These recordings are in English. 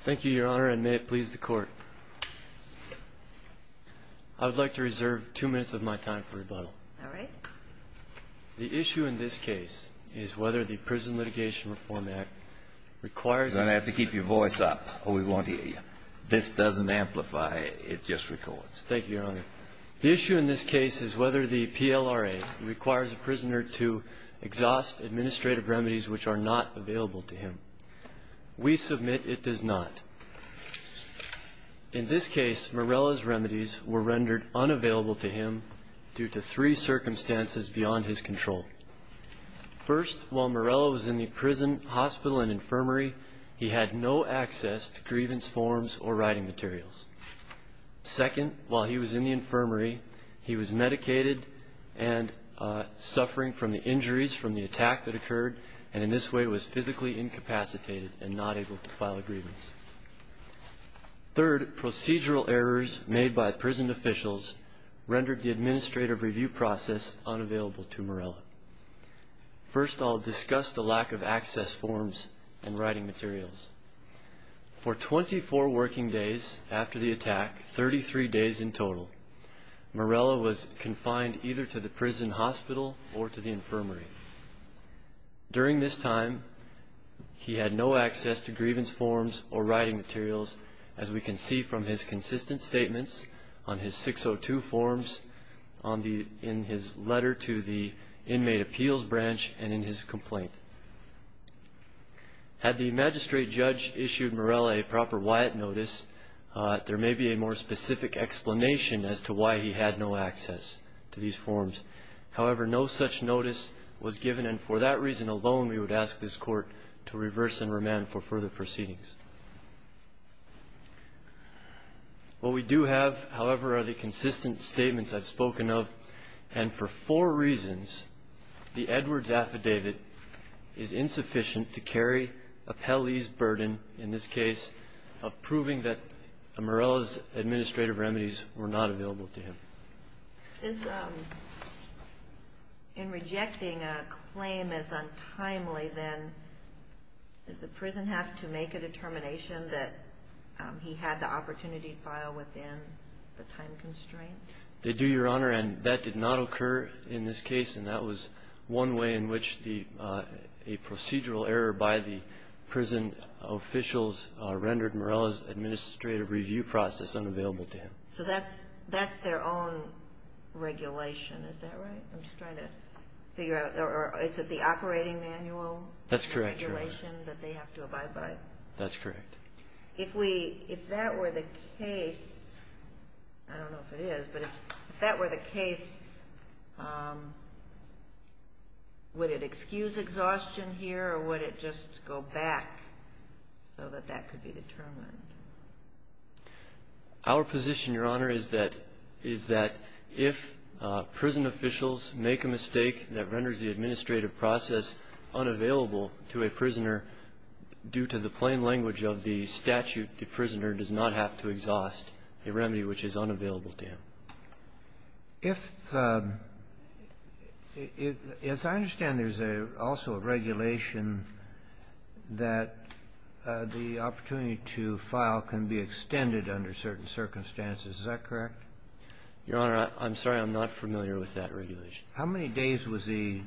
Thank you, Your Honor, and may it please the Court. I would like to reserve two minutes of my time for rebuttal. All right. The issue in this case is whether the Prison Litigation Reform Act requires a prisoner to You're going to have to keep your voice up or we won't hear you. This doesn't amplify, it just records. Thank you, Your Honor. The issue in this case is whether the PLRA requires a prisoner to exhaust administrative remedies which are not available to him. We submit it does not. In this case, Marella's remedies were rendered unavailable to him due to three circumstances beyond his control. First, while Marella was in the prison, hospital, and infirmary, he had no access to grievance forms or writing materials. Second, while he was in the infirmary, he was medicated and suffering from the injuries from the attack that occurred, and in this way was physically incapacitated and not able to file a grievance. Third, procedural errors made by prison officials rendered the administrative review process unavailable to Marella. First, I'll discuss the lack of access forms and writing materials. For 24 working days after the attack, 33 days in total, Marella was confined either to the prison hospital or to the infirmary. During this time, he had no access to grievance forms or writing materials, as we can see from his consistent statements on his 602 forms in his letter to the Inmate Appeals Branch and in his complaint. Had the magistrate judge issued Marella a proper WIAT notice, there may be a more specific explanation as to why he had no access to these forms. However, no such notice was given, and for that reason alone, we would ask this Court to reverse and remand for further proceedings. What we do have, however, are the consistent statements I've spoken of, and for four reasons, the Edwards Affidavit is insufficient to carry Apelli's burden in this case of proving that Marella's administrative remedies were not available to him. Is, in rejecting a claim as untimely, then, does the prison have to make a determination that he had the opportunity to file within the time constraints? They do, Your Honor, and that did not occur in this case, and that was one way in which a procedural error by the prison officials rendered Marella's administrative review process unavailable to him. So that's their own regulation, is that right? I'm just trying to figure out, or is it the operating manual? That's correct, Your Honor. The regulation that they have to abide by? That's correct. If that were the case, I don't know if it is, but if that were the case, would it excuse exhaustion here, or would it just go back so that that could be determined? Our position, Your Honor, is that if prison officials make a mistake that renders the administrative process unavailable to a prisoner due to the plain language of the statute, the prisoner does not have to exhaust a remedy which is unavailable to him. If the – as I understand, there's also a regulation that the opportunity to file can be extended under certain circumstances. Is that correct? Your Honor, I'm sorry. I'm not familiar with that regulation. How many days was he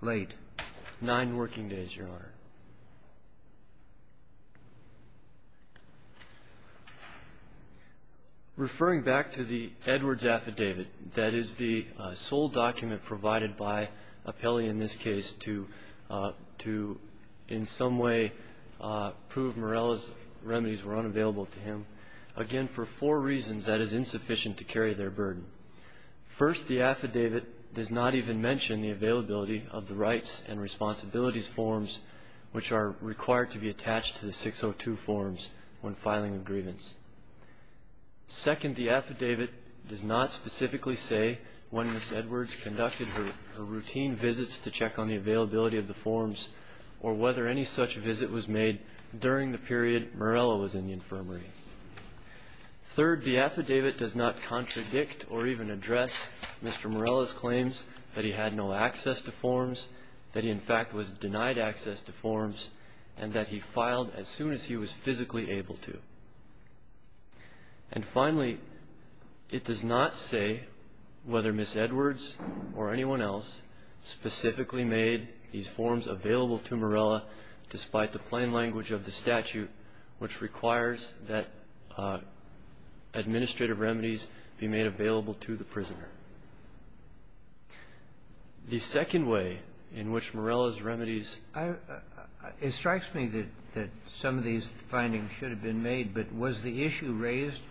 late? Nine working days, Your Honor. Referring back to the Edwards Affidavit, that is the sole document provided in this case to in some way prove Morella's remedies were unavailable to him, again, for four reasons that is insufficient to carry their burden. First, the affidavit does not even mention the availability of the rights and responsibilities forms which are required to be attached to the 602 forms when filing a grievance. Second, the affidavit does not specifically say when Ms. Edwards conducted her routine visits to check on the availability of the forms or whether any such visit was made during the period Morella was in the infirmary. Third, the affidavit does not contradict or even address Mr. Morella's claims that he had no access to forms, that he, in fact, was denied access to forms, and that he filed as soon as he was physically able to. And finally, it does not say whether Ms. Edwards or anyone else specifically made these forms available to Morella despite the plain language of the statute which requires that administrative The second way in which Morella's remedies It strikes me that some of these findings should have been made, but was the issue raised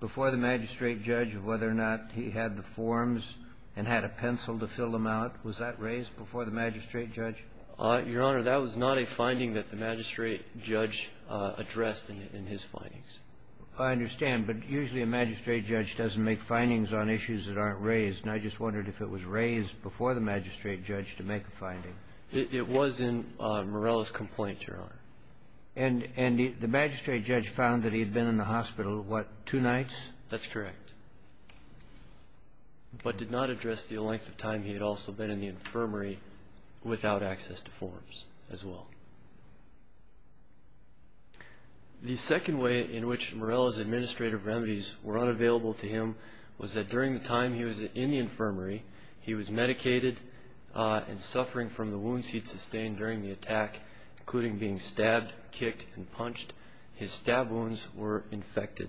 before the magistrate judge of whether or not he had the forms and had a pencil to fill them out? Was that raised before the magistrate judge? Your Honor, that was not a finding that the magistrate judge addressed in his findings. I understand, but usually a magistrate judge doesn't make findings on issues that aren't raised, and I just wondered if it was raised before the magistrate judge to make a finding. It was in Morella's complaint, Your Honor. And the magistrate judge found that he had been in the hospital, what, two nights? That's correct, but did not address the length of time he had also been in the infirmary without access to forms as well. The second way in which Morella's administrative remedies were unavailable to him was that during the time he was in the infirmary, he was medicated and suffering from the wounds he'd sustained during the attack, including being stabbed, kicked, and punched. His stab wounds were infected.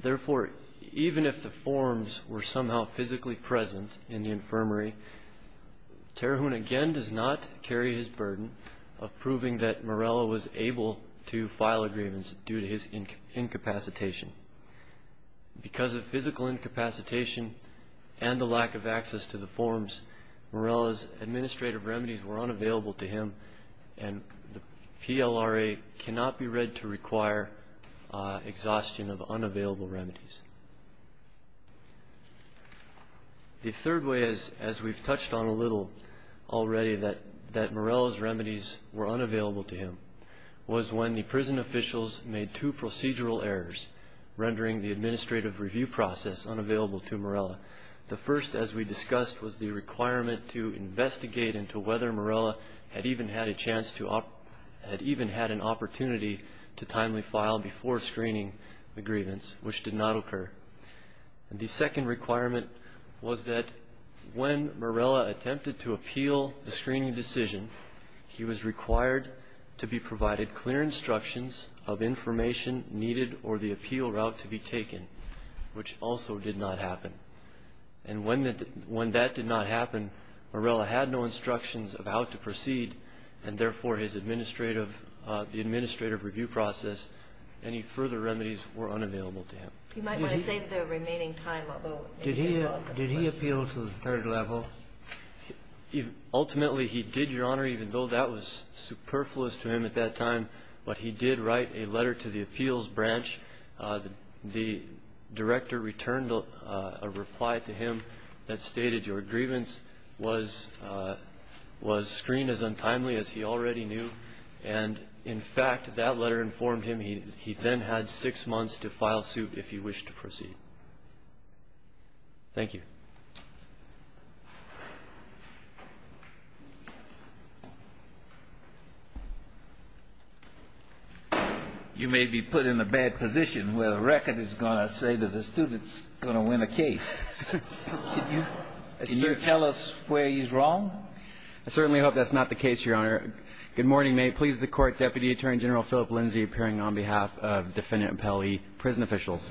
Therefore, even if the forms were somehow physically present in the infirmary, Terahun again does not carry his burden of proving that Morella was able to file a grievance due to his incapacitation. Because of physical incapacitation and the lack of access to the forms, Morella's administrative remedies were unavailable to him, and the PLRA cannot be read to require exhaustion of unavailable remedies. The third way, as we've touched on a little already, that Morella's remedies were unavailable to him was when the prison officials made two procedural errors rendering the administrative review process unavailable to Morella. The first, as we discussed, was the requirement to investigate into whether Morella had even had a chance to, had even had an opportunity to timely file before screening the grievance, which did not occur. The second requirement was that when Morella attempted to appeal the screening decision, he was required to be provided clear instructions of information needed or the appeal route to be taken, which also did not happen. And when that did not happen, Morella had no instructions of how to proceed, and therefore the administrative review process, any further remedies were unavailable to him. You might want to save the remaining time. Did he appeal to the third level? Ultimately, he did, Your Honor, even though that was superfluous to him at that time. But he did write a letter to the appeals branch. The director returned a reply to him that stated, Your grievance was screened as untimely as he already knew. And, in fact, that letter informed him he then had six months to file suit if he wished to proceed. Thank you. You may be put in a bad position where the record is going to say that the student is going to win a case. Can you tell us where he's wrong? I certainly hope that's not the case, Your Honor. Good morning. May it please the Court. Deputy Attorney General Philip Lindsay appearing on behalf of Defendant Appellee Prison Officials.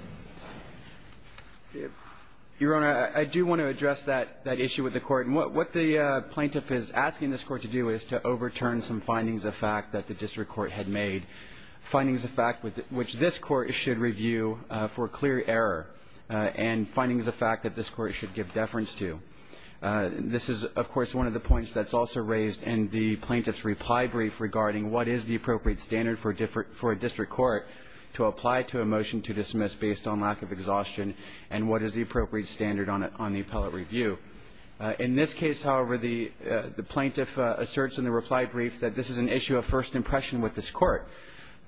Your Honor, I do want to address that issue with the Court. And what the plaintiff is asking this Court to do is to overturn some findings of fact that the district court had made, findings of fact which this Court should review for clear error, and findings of fact that this Court should give deference to. This is, of course, one of the points that's also raised in the plaintiff's reply brief regarding what is the appropriate standard for a district court to apply to a motion to dismiss based on lack of exhaustion, and what is the appropriate standard on the appellate review. In this case, however, the plaintiff asserts in the reply brief that this is an issue of first impression with this Court.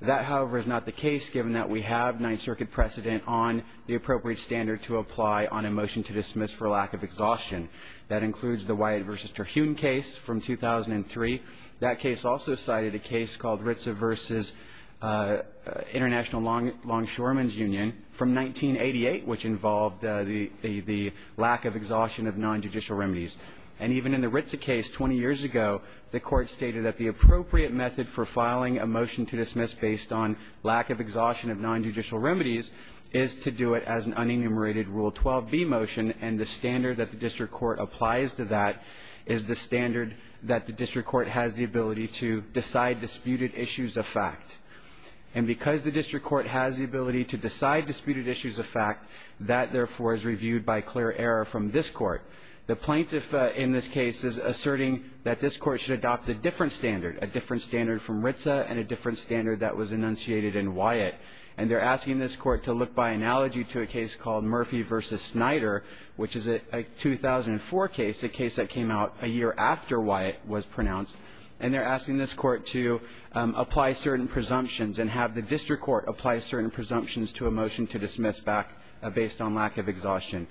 That, however, is not the case, given that we have Ninth Circuit precedent on the appropriate standard to apply on a motion to dismiss for lack of exhaustion. That includes the Wyatt v. Terhune case from 2003. That case also cited a case called Ritza v. International Longshoremen's Union from 1988, which involved the lack of exhaustion of nonjudicial remedies. And even in the Ritza case 20 years ago, the Court stated that the appropriate method for filing a motion to dismiss based on lack of exhaustion of nonjudicial remedies is to do it as an unenumerated Rule 12b motion, and the standard that the district court applies to that is the standard that the district court has the ability to decide disputed issues of fact. And because the district court has the ability to decide disputed issues of fact, that, therefore, is reviewed by clear error from this Court. The plaintiff in this case is asserting that this Court should adopt a different standard, a different standard from Ritza and a different standard that was enunciated in Wyatt. And they're asking this Court to look by analogy to a case called Murphy v. Snyder, which is a 2004 case, a case that came out a year after Wyatt was pronounced. And they're asking this Court to apply certain presumptions and have the district court apply certain presumptions to a motion to dismiss back based on lack of exhaustion.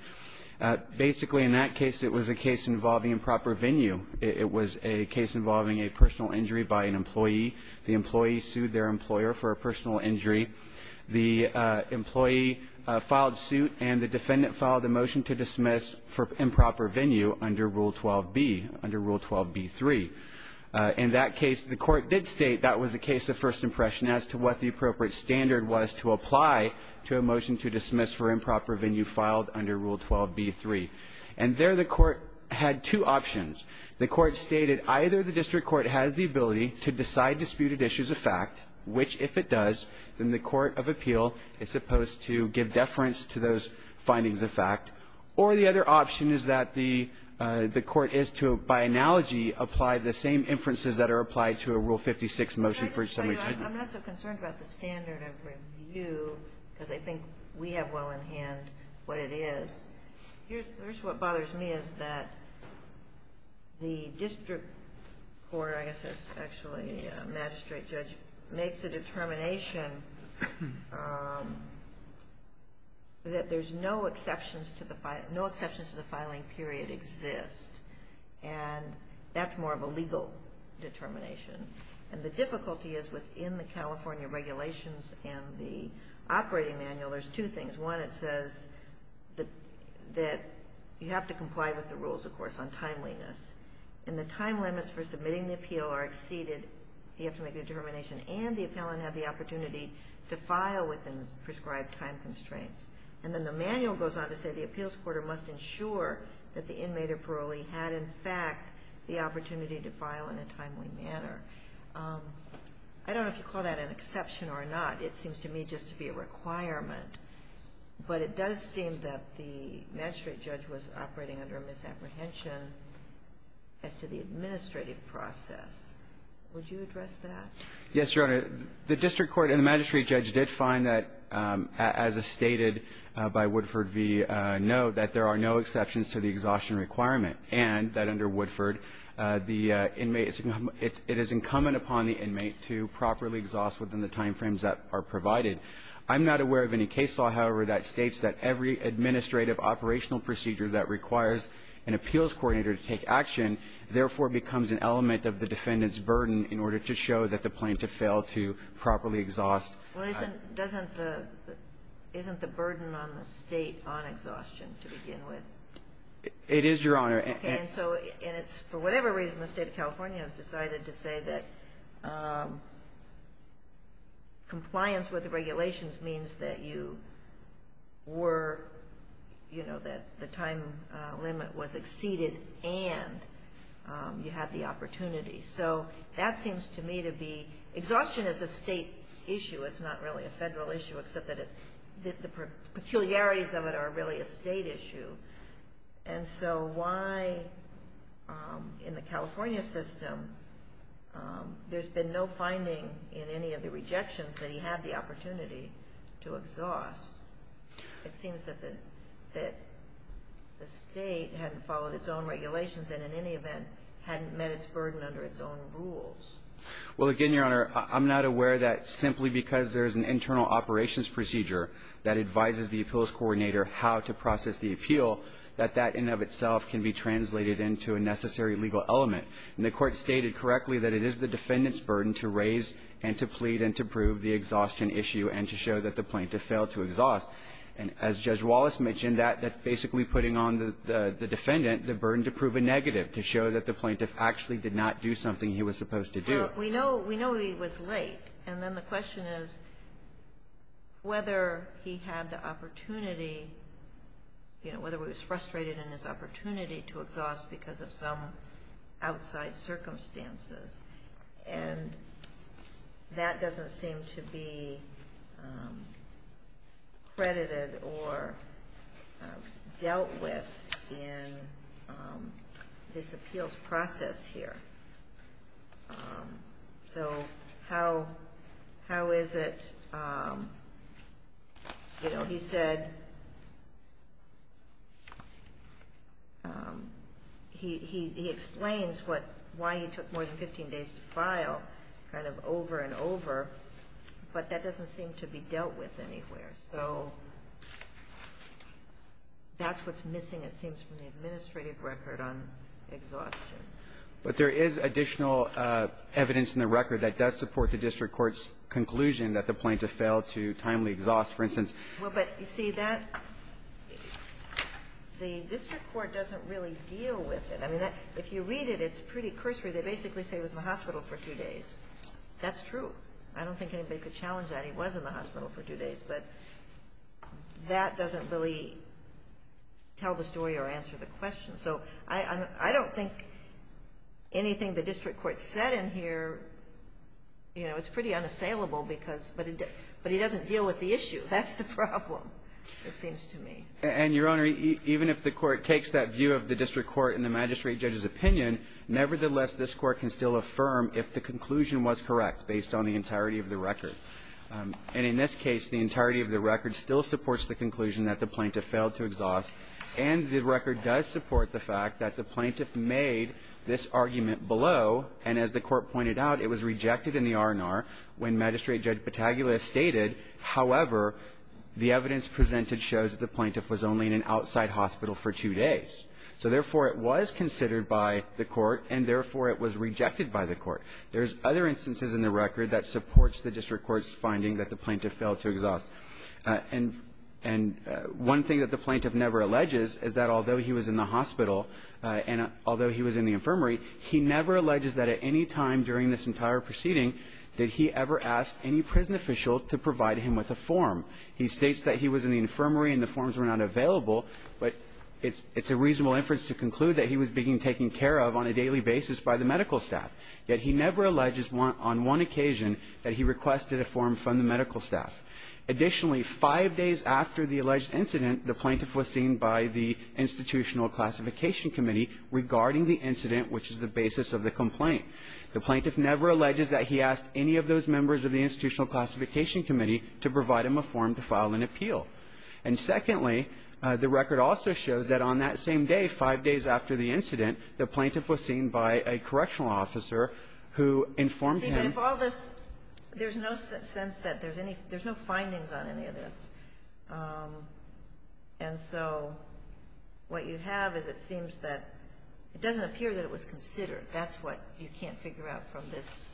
Basically, in that case, it was a case involving improper venue. It was a case involving a personal injury by an employee. The employee sued their employer for a personal injury. The employee filed suit and the defendant filed a motion to dismiss for improper venue under Rule 12b, under Rule 12b-3. In that case, the Court did state that was a case of first impression as to what the appropriate standard was to apply to a motion to dismiss for improper venue filed under Rule 12b-3. And there the Court had two options. The Court stated either the district court has the ability to decide disputed issues of fact, which if it does, then the court of appeal is supposed to give deference to those findings of fact. Or the other option is that the court is to, by analogy, apply the same inferences that are applied to a Rule 56 motion for some reason. I'm not so concerned about the standard of review because I think we have well in hand what it is. Here's what bothers me is that the district court, I guess that's actually magistrate judge, makes a determination that there's no exceptions to the filing period exist. And that's more of a legal determination. And the difficulty is within the California regulations and the operating manual, there's two things. One, it says that you have to comply with the rules, of course, on timeliness. And the time limits for submitting the appeal are exceeded. You have to make a determination and the appellant had the opportunity to file within prescribed time constraints. And then the manual goes on to say the appeals court must ensure that the I don't know if you call that an exception or not. It seems to me just to be a requirement. But it does seem that the magistrate judge was operating under a misapprehension as to the administrative process. Would you address that? Yes, Your Honor. The district court and the magistrate judge did find that, as is stated by Woodford v. Noe, that there are no exceptions to the exhaustion requirement. And that under Woodford, it is incumbent upon the inmate to properly exhaust within the time frames that are provided. I'm not aware of any case law, however, that states that every administrative operational procedure that requires an appeals coordinator to take action, therefore becomes an element of the defendant's burden in order to show that the plaintiff failed to properly exhaust. Well, isn't the burden on the State on exhaustion to begin with? It is, Your Honor. Okay. And so it's for whatever reason the State of California has decided to say that compliance with the regulations means that you were, you know, that the time limit was exceeded and you had the opportunity. So that seems to me to be exhaustion is a State issue. It's not really a Federal issue, except that the peculiarities of it are really a State issue. And so why, in the California system, there's been no finding in any of the rejections that he had the opportunity to exhaust. It seems that the State had followed its own regulations and, in any event, hadn't met its burden under its own rules. Well, again, Your Honor, I'm not aware that simply because there's an internal operations procedure that advises the appeals coordinator how to process the appeal, that that in and of itself can be translated into a necessary legal element. And the Court stated correctly that it is the defendant's burden to raise and to plead and to prove the exhaustion issue and to show that the plaintiff failed to exhaust. And as Judge Wallace mentioned, that's basically putting on the defendant the burden to prove a negative, to show that the plaintiff actually did not do something he was supposed to do. We know he was late. And then the question is whether he had the opportunity, you know, whether he was frustrated in his opportunity to exhaust because of some outside circumstances. And that doesn't seem to be credited or dealt with in this appeals process here. So how is it, you know, he said he explains why he took more than 15 days to file kind of over and over, but that doesn't seem to be dealt with anywhere. So that's what's missing, it seems, from the administrative record on exhaustion. But there is additional evidence in the record that does support the district court's conclusion that the plaintiff failed to timely exhaust, for instance. Well, but, you see, that the district court doesn't really deal with it. I mean, if you read it, it's pretty cursory. They basically say he was in the hospital for two days. That's true. I don't think anybody could challenge that. He was in the hospital for two days. But that doesn't really tell the story or answer the question. So I don't think anything the district court said in here, you know, it's pretty unassailable because, but he doesn't deal with the issue. That's the problem, it seems to me. And, Your Honor, even if the court takes that view of the district court and the magistrate judge's opinion, nevertheless, this Court can still affirm if the conclusion was correct based on the entirety of the record. And in this case, the entirety of the record still supports the conclusion that the plaintiff made this argument below. And as the Court pointed out, it was rejected in the R&R when Magistrate Judge Bataglia stated, however, the evidence presented shows that the plaintiff was only in an outside hospital for two days. So, therefore, it was considered by the Court, and, therefore, it was rejected by the Court. There's other instances in the record that supports the district court's finding that the plaintiff failed to exhaust. And one thing that the plaintiff never alleges is that although he was in the hospital and although he was in the infirmary, he never alleges that at any time during this entire proceeding did he ever ask any prison official to provide him with a form. He states that he was in the infirmary and the forms were not available, but it's a reasonable inference to conclude that he was being taken care of on a daily basis by the medical staff. Yet he never alleges on one occasion that he requested a form from the medical staff. Additionally, five days after the alleged incident, the plaintiff was seen by the Institutional Classification Committee regarding the incident, which is the basis of the complaint. The plaintiff never alleges that he asked any of those members of the Institutional Classification Committee to provide him a form to file an appeal. And, secondly, the record also shows that on that same day, five days after the incident, the plaintiff was seen by a correctional officer who informed him. And if all this, there's no sense that there's any, there's no findings on any of this. And so what you have is it seems that it doesn't appear that it was considered. That's what you can't figure out from this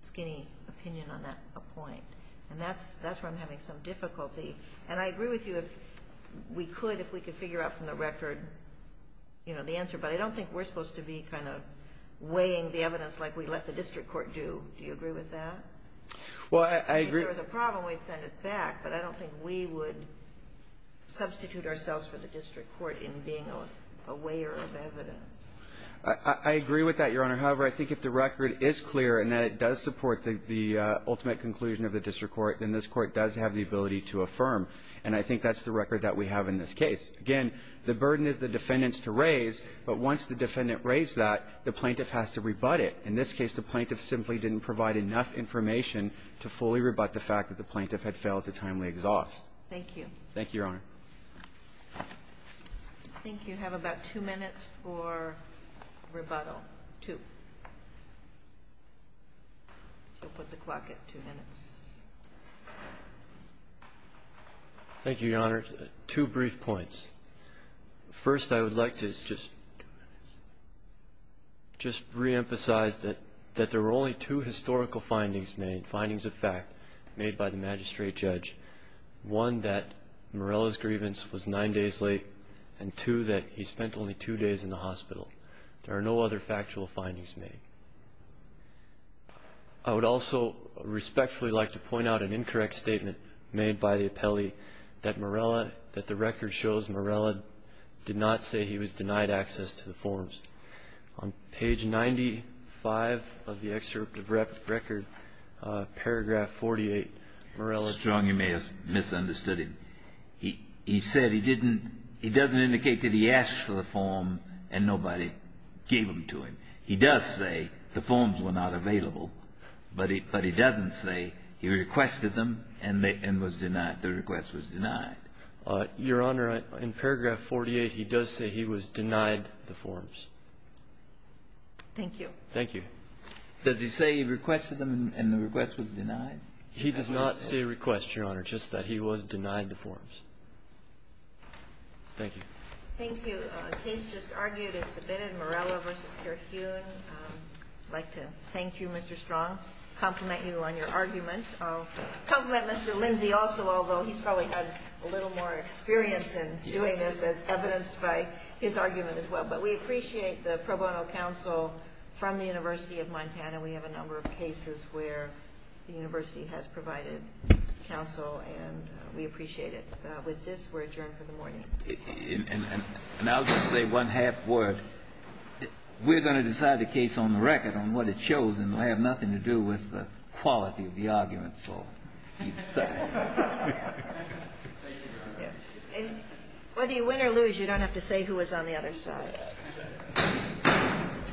skinny opinion on that point. And that's where I'm having some difficulty. And I agree with you if we could, if we could figure out from the record, you know, the answer, but I don't think we're supposed to be kind of weighing the Do you agree with that? Well, I agree. If there was a problem, we'd send it back. But I don't think we would substitute ourselves for the district court in being a weigher of evidence. I agree with that, Your Honor. However, I think if the record is clear and that it does support the ultimate conclusion of the district court, then this court does have the ability to affirm. And I think that's the record that we have in this case. Again, the burden is the defendant's to raise. But once the defendant raised that, the plaintiff has to rebut it. In this case, the plaintiff simply didn't provide enough information to fully rebut the fact that the plaintiff had failed to timely exhaust. Thank you. Thank you, Your Honor. I think you have about two minutes for rebuttal. Two. You'll put the clock at two minutes. Thank you, Your Honor. Two brief points. First, I would like to just reemphasize that there were only two historical findings made, findings of fact, made by the magistrate judge. One, that Morella's grievance was nine days late, and two, that he spent only two days in the hospital. There are no other factual findings made. I would also respectfully like to point out an incorrect statement made by the plaintiff. The plaintiff did not say he was denied access to the forms. On page 95 of the excerpt of the record, paragraph 48, Morella's grievance was nine days late. Strong, you may have misunderstood him. He said he didn't, he doesn't indicate that he asked for the form and nobody gave them to him. He does say the forms were not available, but he doesn't say he requested them and was denied. The request was denied. Your Honor, in paragraph 48, he does say he was denied the forms. Thank you. Thank you. Does he say he requested them and the request was denied? He does not say request, Your Honor, just that he was denied the forms. Thank you. Thank you. The case just argued and submitted, Morella v. Terhune. I'd like to thank you, Mr. Strong, compliment you on your argument. I'll compliment Mr. Lindsey also, although he's probably had a little more experience in doing this as evidenced by his argument as well. But we appreciate the pro bono counsel from the University of Montana. We have a number of cases where the university has provided counsel, and we appreciate it. With this, we're adjourned for the morning. And I'll just say one half word. We're going to decide the case on the record, on what it shows, and it will have nothing to do with the quality of the argument, so either side. Thank you, Your Honor. Whether you win or lose, you don't have to say who was on the other side. Yes.